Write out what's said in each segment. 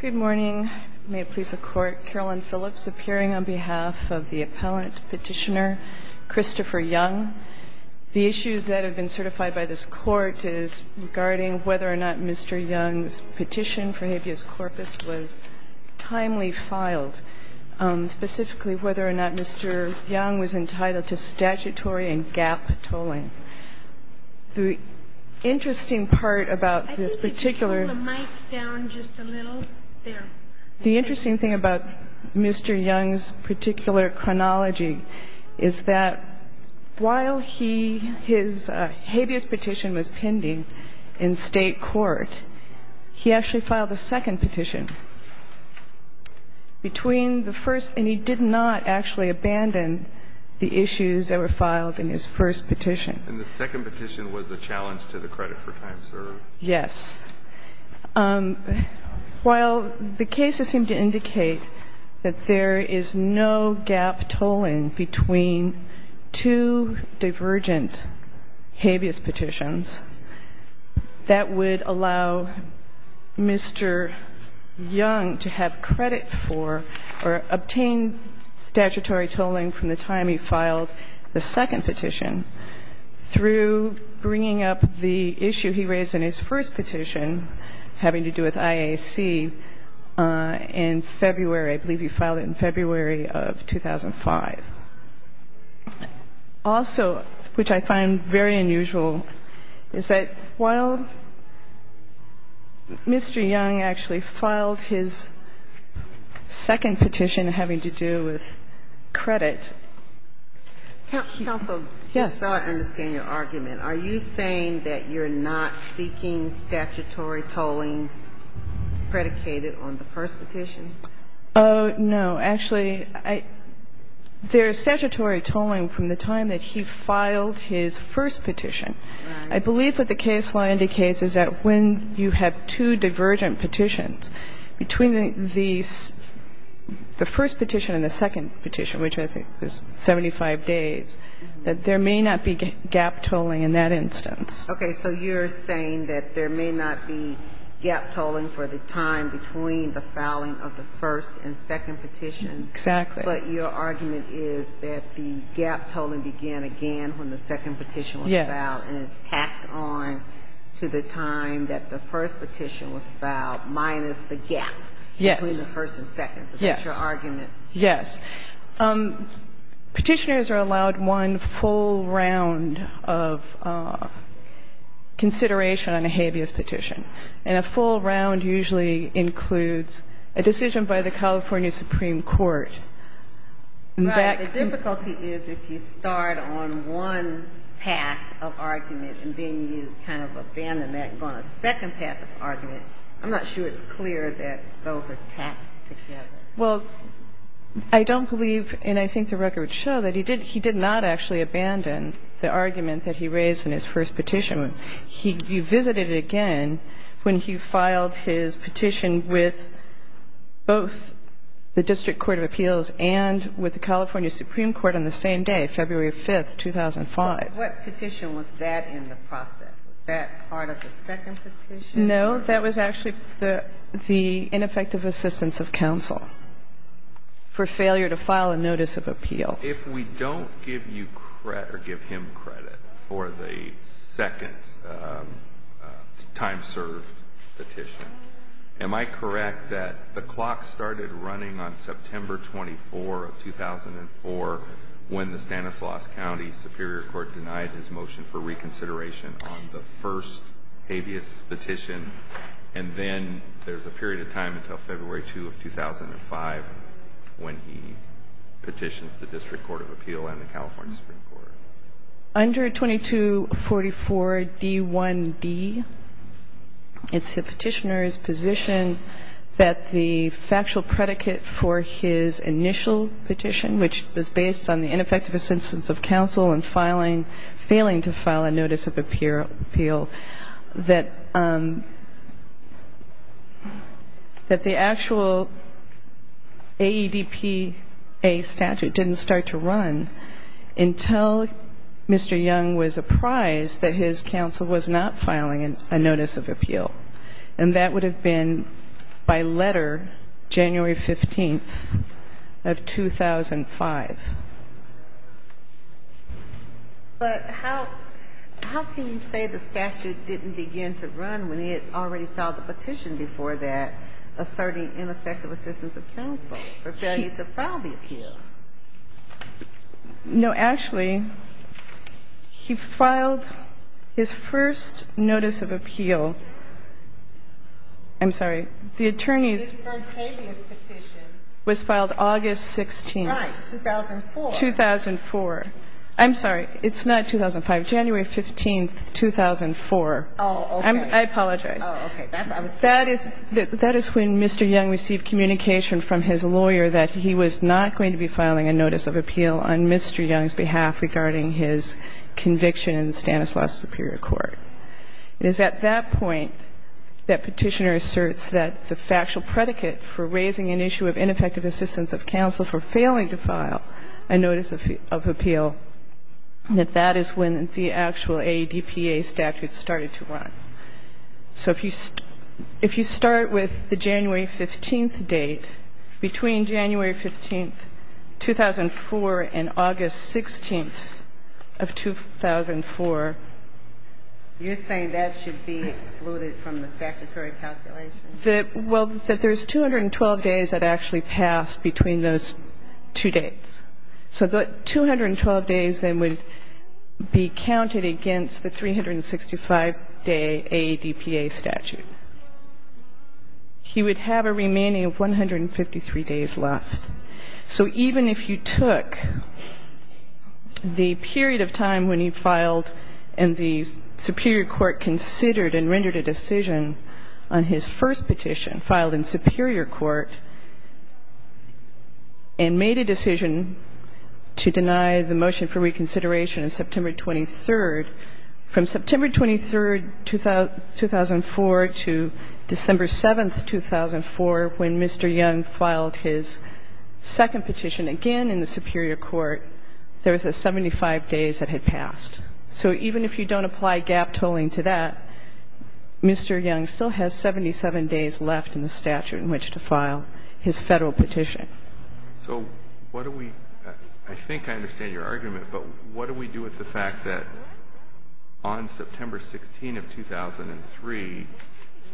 Good morning. May it please the Court, Carolyn Phillips appearing on behalf of the Appellant Petitioner, Christopher Young. The issues that have been certified by this Court is regarding whether or not Mr. Young's petition for habeas corpus was timely filed, specifically whether or not Mr. Young was entitled to statutory and GAAP tolling. The interesting part about this particular – I think if you pull the mic down just a little, there. The interesting thing about Mr. Young's particular chronology is that while he – his habeas petition was pending in State court, he actually filed a second petition between the first – and he did not actually abandon the issues that were filed in his first petition. And the second petition was a challenge to the credit for time served? Yes. While the cases seem to indicate that there is no GAAP tolling between two divergent habeas petitions, that would allow Mr. Young to have credit for or obtain statutory tolling from the time he filed the second petition through bringing up the issue he raised in his first petition having to do with IAC in February. I believe he filed it in February of 2005. Also, which I find very unusual, is that while Mr. Young actually filed his second petition having to do with credit – Counsel. Yes. So I understand your argument. Are you saying that you're not seeking statutory tolling predicated on the first petition? Oh, no. Actually, I – there is statutory tolling from the time that he filed his first petition. I believe what the case law indicates is that when you have two divergent petitions, between the first petition and the second petition, which I think was 75 days, that there may not be GAAP tolling in that instance. Okay. So you're saying that there may not be GAAP tolling for the time between the filing of the first and second petition. Exactly. But your argument is that the GAAP tolling began again when the second petition was filed. Yes. And it's tacked on to the time that the first petition was filed minus the GAAP between the first and second. Yes. So that's your argument. Yes. Petitioners are allowed one full round of consideration on a habeas petition. And a full round usually includes a decision by the California Supreme Court. Right. The difficulty is if you start on one path of argument and then you kind of abandon that and go on a second path of argument, I'm not sure it's clear that those are tacked together. Well, I don't believe, and I think the record would show that he did not actually abandon the argument that he raised in his first petition. He revisited it again when he filed his petition with both the District Court of Appeals and with the California Supreme Court on the same day, February 5th, 2005. But what petition was that in the process? Was that part of the second petition? No. That was actually the ineffective assistance of counsel for failure to file a notice of appeal. Well, if we don't give you credit or give him credit for the second time-served petition, am I correct that the clock started running on September 24 of 2004 when the Stanislaus County Superior Court denied his motion for reconsideration on the first habeas petition? And then there's a period of time until February 2 of 2005 when he petitions the District Court of Appeals and the California Supreme Court. Under 2244d1d, it's the petitioner's position that the factual predicate for his initial petition, which was based on the ineffective assistance of counsel and failing to file a notice of appeal, that the actual AEDPA statute didn't start to run until Mr. Young was apprised that his counsel was not filing a notice of appeal. And that would have been by letter January 15th of 2005. But how can you say the statute didn't begin to run when it already filed a petition before that asserting ineffective assistance of counsel for failure to file the appeal? No, Ashley. He filed his first notice of appeal. I'm sorry. The attorney's first habeas petition was filed August 16th. Right. 2004. 2004. I'm sorry. It's not 2005. January 15th, 2004. Oh, okay. I apologize. Oh, okay. That is when Mr. Young received communication from his lawyer that he was not going to be filing a notice of appeal on Mr. Young's behalf regarding his conviction in the Stanislaus Superior Court. It is at that point that petitioner asserts that the factual predicate for raising an issue of ineffective assistance of counsel for failing to file a notice of appeal, that that is when the actual ADPA statute started to run. So if you start with the January 15th date, between January 15th, 2004, and August 16th of 2004, you're saying that should be excluded from the statutory calculation? Well, that there's 212 days that actually passed between those two dates. So the 212 days then would be counted against the 365-day ADPA statute. He would have a remaining of 153 days left. So even if you took the period of time when he filed and the superior court considered and rendered a decision on his first petition filed in superior court and made a decision to deny the motion for reconsideration on September 23rd, from September 23rd, 2004, to December 7th, 2004, when Mr. Young filed his second petition again in the superior court, there was a 75 days that had passed. So even if you don't apply gap tolling to that, Mr. Young still has 77 days left in the statute in which to file his Federal petition. So what do we – I think I understand your argument, but what do we do with the fact that on September 16th of 2003,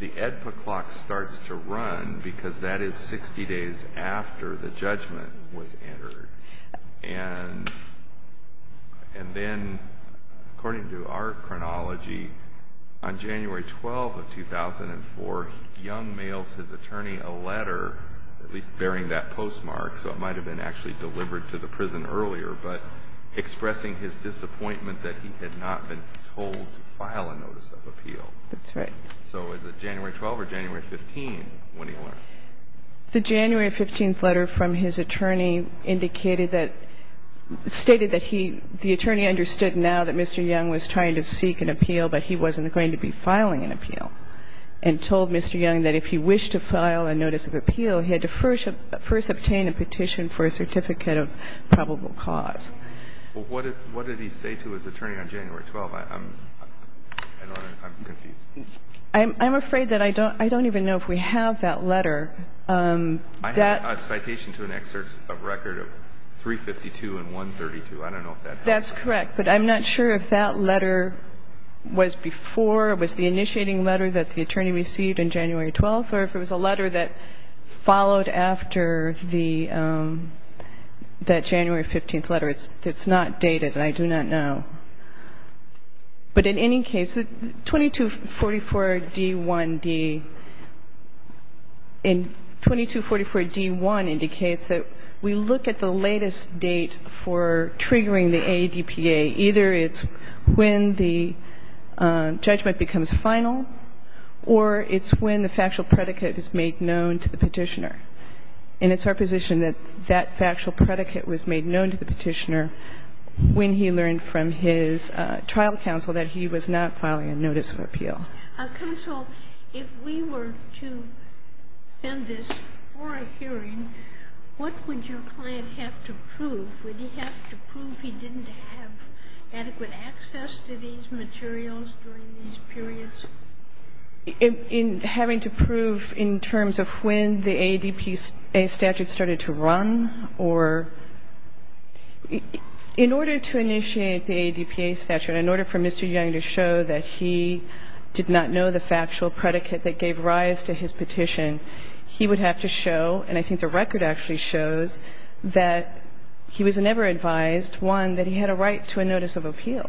the ADPA clock starts to run because that is 60 days after the judgment was entered? And then, according to our chronology, on January 12th of 2004, Young mails his attorney a letter, at least bearing that postmark, so it might have been actually delivered to the prison earlier, but expressing his disappointment that he had not been told to file a notice of appeal. That's right. So is it January 12th or January 15th when he went? The January 15th letter from his attorney indicated that – stated that he – the attorney understood now that Mr. Young was trying to seek an appeal, but he wasn't going to be filing an appeal, and told Mr. Young that if he wished to file a notice of appeal, he had to first obtain a petition for a certificate of probable cause. Well, what did he say to his attorney on January 12th? I don't know. I'm confused. I'm afraid that I don't – I don't even know if we have that letter. I have a citation to an excerpt of record of 352 and 132. I don't know if that has that. That's correct, but I'm not sure if that letter was before – was the initiating letter that the attorney received on January 12th, or if it was a letter that followed after the – that January 15th letter. It's not dated, and I do not know. But in any case, 2244d1d – and 2244d1 indicates that we look at the latest date for triggering the AEDPA. Either it's when the judgment becomes final, or it's when the factual predicate is made known to the petitioner. And it's our position that that factual predicate was made known to the petitioner when he learned from his trial counsel that he was not filing a notice of appeal. Counsel, if we were to send this for a hearing, what would your client have to prove? Would he have to prove he didn't have adequate access to these materials during these periods? In having to prove in terms of when the AEDPA statute started to run, or – in order to initiate the AEDPA statute, in order for Mr. Young to show that he did not know the factual predicate that gave rise to his petition, he would have to show, and I think the record actually shows, that he was never advised, one, that he had a right to a notice of appeal.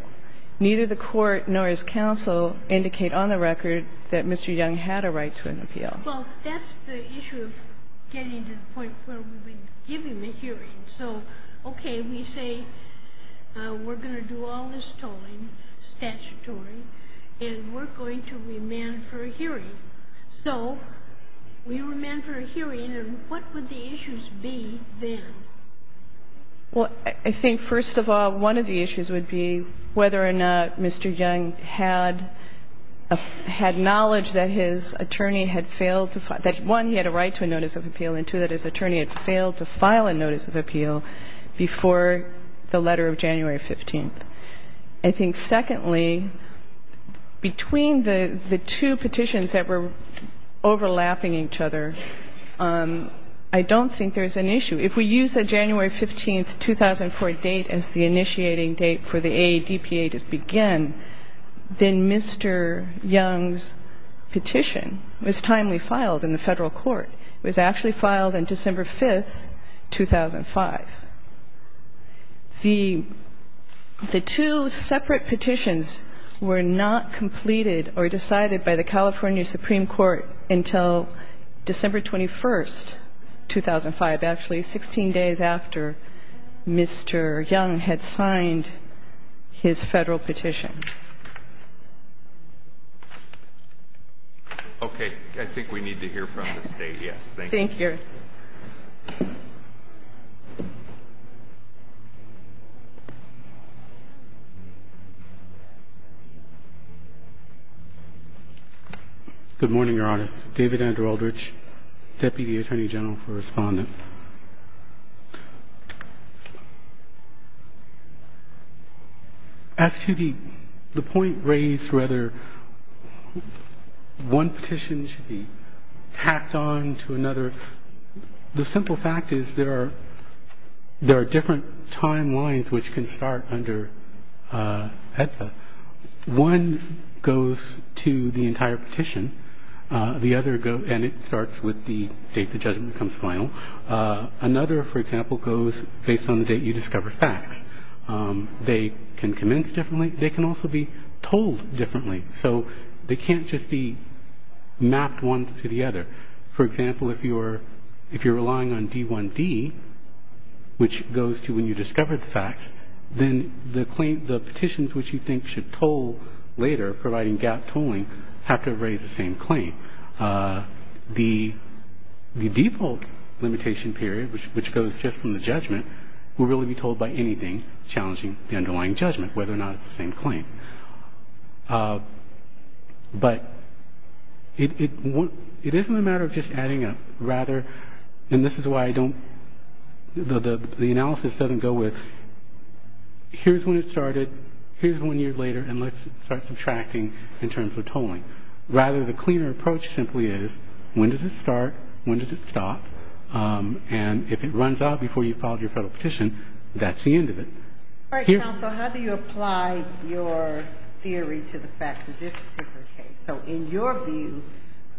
Neither the Court nor his counsel indicate on the record that Mr. Young had a right to an appeal. Well, that's the issue of getting to the point where we would give him a hearing. So, okay, we say we're going to do all this tolling, statutory, and we're going to remand for a hearing. So we remand for a hearing, and what would the issues be then? Well, I think, first of all, one of the issues would be whether or not Mr. Young had knowledge that his attorney had failed to – that, one, he had a right to a notice of appeal, and, two, that his attorney had failed to file a notice of appeal before the letter of January 15th. I think, secondly, between the two petitions that were overlapping each other, I don't think there's an issue. If we use the January 15th, 2004 date as the initiating date for the AADPA to begin, then Mr. Young's petition was timely filed in the Federal Court. It was actually filed on December 5th, 2005. The two separate petitions were not completed or decided by the California Supreme Court until December 21st, 2005, actually, 16 days after Mr. Young had signed his Federal petition. Okay. I think we need to hear from the State. Thank you. Mr. Stewart. Good morning, Your Honors. David Andrew Aldrich, Deputy Attorney General for Respondent. As to the point raised, rather, one petition should be tacked on to another, the simple fact is there are different timelines which can start under AEDPA. One goes to the entire petition, and it starts with the date the judgment becomes final. Another, for example, goes based on the date you discover facts. They can commence differently. They can also be told differently. So they can't just be mapped one to the other. For example, if you're relying on D1D, which goes to when you discover the facts, then the petitions which you think should toll later, providing gap tolling, have to raise the same claim. The default limitation period, which goes just from the judgment, will really be told by anything challenging the underlying judgment, whether or not it's the same claim. But it isn't a matter of just adding up. Rather, and this is why I don't the analysis doesn't go with here's when it started, here's one year later, and let's start subtracting in terms of tolling. Rather, the cleaner approach simply is when does it start, when does it stop, and if it runs out before you've filed your federal petition, that's the end of it. All right, counsel, how do you apply your theory to the facts of this particular case? So in your view,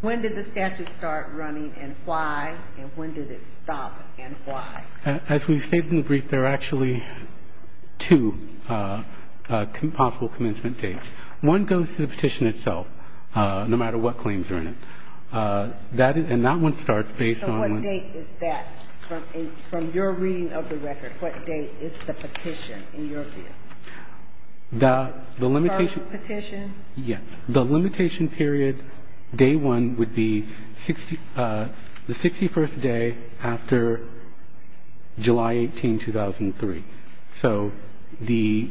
when did the statute start running and why, and when did it stop and why? As we've stated in the brief, there are actually two possible commencement dates. One goes to the petition itself, no matter what claims are in it. And that one starts based on when. So what date is that? From your reading of the record, what date is the petition in your view? The first petition? Yes. The limitation period, day one, would be the 61st day after July 18, 2003. So the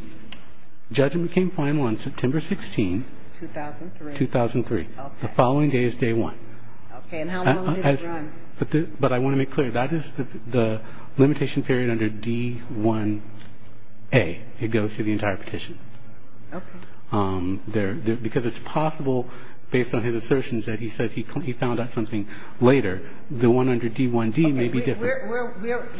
judgment came final on September 16. 2003. 2003. Okay. The following day is day one. Okay. And how long did it run? But I want to make clear, that is the limitation period under D-1A. It goes through the entire petition. Okay. Because it's possible, based on his assertions that he says he found out something later, the one under D-1D may be different. Okay.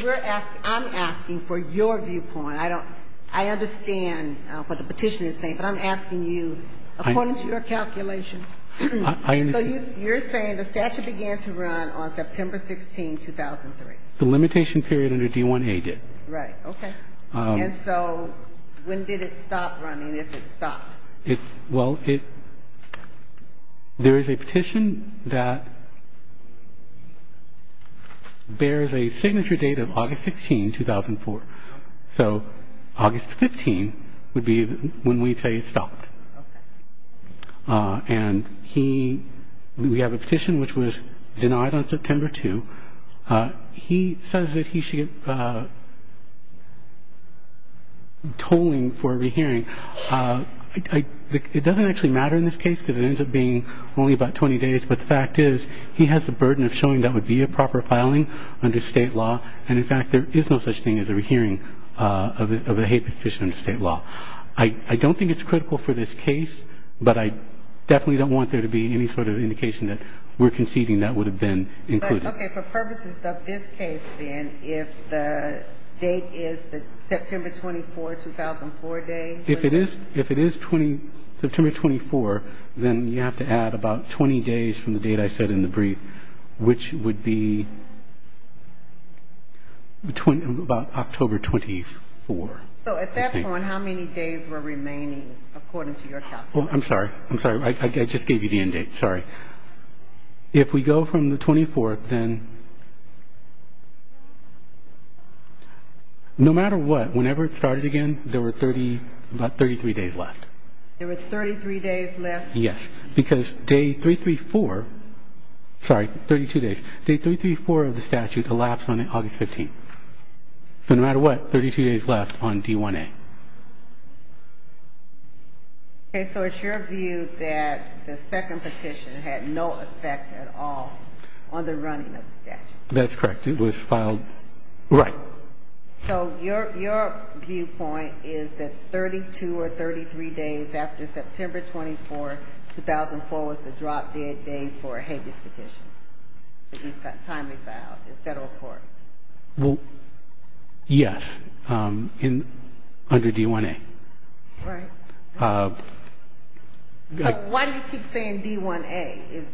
We're asking, I'm asking for your viewpoint. I don't, I understand what the petition is saying, but I'm asking you, according to your calculations. I understand. So you're saying the statute began to run on September 16, 2003. The limitation period under D-1A did. Right. Okay. And so when did it stop running, if it stopped? It's, well, it, there is a petition that bears a signature date of August 16, 2004. So August 15 would be when we'd say it stopped. Okay. And he, we have a petition which was denied on September 2. He says that he should get tolling for a rehearing. It doesn't actually matter in this case because it ends up being only about 20 days, but the fact is he has the burden of showing that would be a proper filing under state law. And, in fact, there is no such thing as a rehearing of a hate petition under state law. I don't think it's critical for this case, but I definitely don't want there to be any sort of indication that we're conceding that would have been included. Okay. For purposes of this case, then, if the date is the September 24, 2004 day? If it is September 24, then you have to add about 20 days from the date I said in the brief, which would be about October 24. So at that point, how many days were remaining according to your calculation? I'm sorry. I'm sorry. I just gave you the end date. Sorry. If we go from the 24th, then no matter what, whenever it started again, there were 30, about 33 days left. There were 33 days left? Yes, because day 334, sorry, 32 days, day 334 of the statute elapsed on August 15. So no matter what, 32 days left on D1A. Okay. So it's your view that the second petition had no effect at all on the running of the statute? That's correct. It was filed right. So your viewpoint is that 32 or 33 days after September 24, 2004, was the drop-dead day for a habeas petition, a timely file in federal court? Well, yes, under D1A. Right. Why do you keep saying D1A?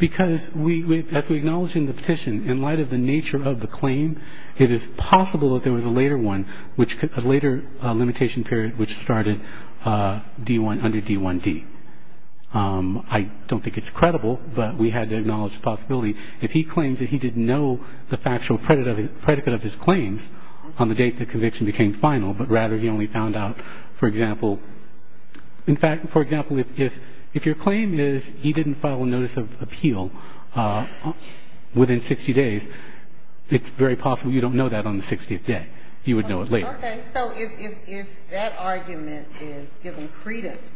Because as we acknowledge in the petition, in light of the nature of the claim, it is possible that there was a later one, a later limitation period, which started under D1D. I don't think it's credible, but we had to acknowledge the possibility. If he claims that he didn't know the factual predicate of his claims on the date the conviction became final, but rather he only found out, for example, in fact, for example, if your claim is he didn't file a notice of appeal within 60 days, it's very possible you don't know that on the 60th day. You would know it later. Okay. So if that argument is given credence,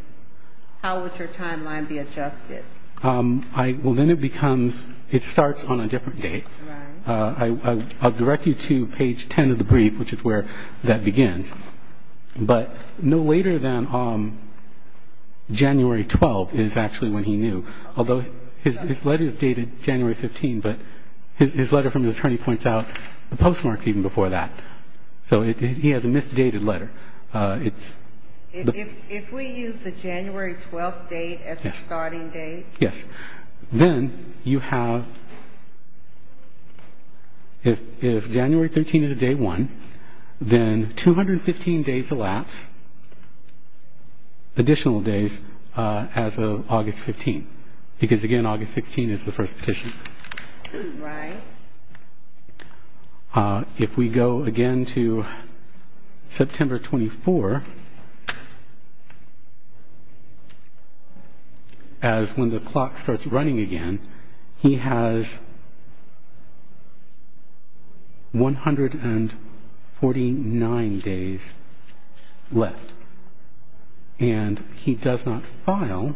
how would your timeline be adjusted? Well, then it becomes ‑‑ it starts on a different date. I'll direct you to page 10 of the brief, which is where that begins. But no later than January 12 is actually when he knew, although his letter is dated January 15, but his letter from the attorney points out the postmarks even before that. So he has a misdated letter. If we use the January 12 date as the starting date? Yes. Then you have ‑‑ if January 13 is day one, then 215 days elapse additional days as of August 15, because, again, August 16 is the first petition. Right. If we go again to September 24, as when the clock starts running again, he has 149 days left. And he does not file.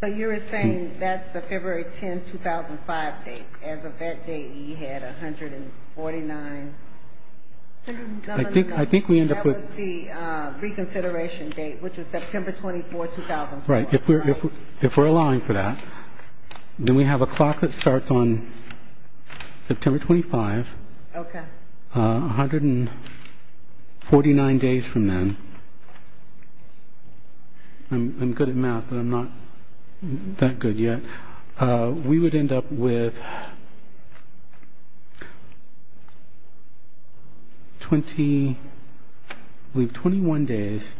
But you were saying that's the February 10, 2005 date. As of that date, he had 149. I think we end up with ‑‑ That was the reconsideration date, which was September 24, 2004. Right. If we're allowing for that, then we have a clock that starts on September 25. Okay. 149 days from then. I'm good at math, but I'm not that good yet. We would end up with 21 days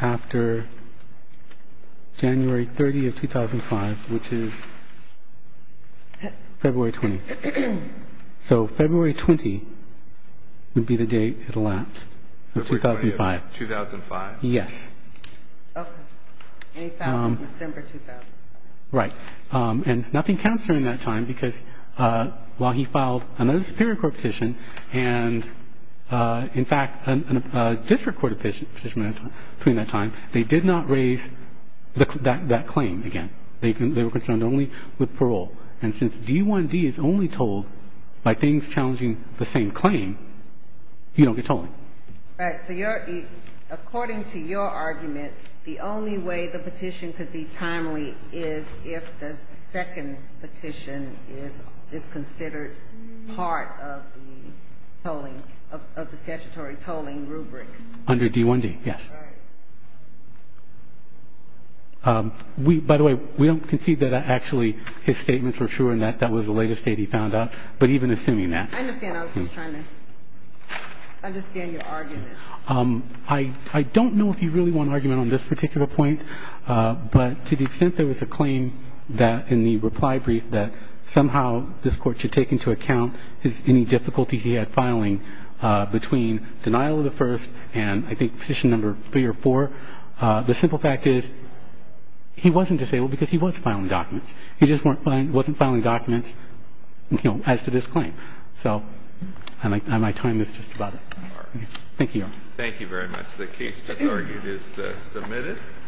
after January 30 of 2005, which is February 20. So February 20 would be the date it elapsed, of 2005. 2005. Yes. Okay. And he filed in December 2005. Right. And nothing counts during that time, because while he filed another Superior Court petition, and, in fact, a district court petition between that time, they did not raise that claim again. They were concerned only with parole. And since D1D is only told by things challenging the same claim, you don't get tolling. Right. So according to your argument, the only way the petition could be timely is if the second petition is considered part of the statutory tolling rubric. Under D1D, yes. Right. By the way, we don't concede that actually his statements were true and that that was the latest date he found out, but even assuming that. I understand. I was just trying to understand your argument. I don't know if you really want an argument on this particular point, but to the extent there was a claim that in the reply brief that somehow this court should take into account any difficulties he had filing between denial of the first and I think petition number three or four, the simple fact is he wasn't disabled because he was filing documents. He just wasn't filing documents as to this claim. So my time is just about up. All right. Thank you, Your Honor. Thank you very much. The case just argued is submitted.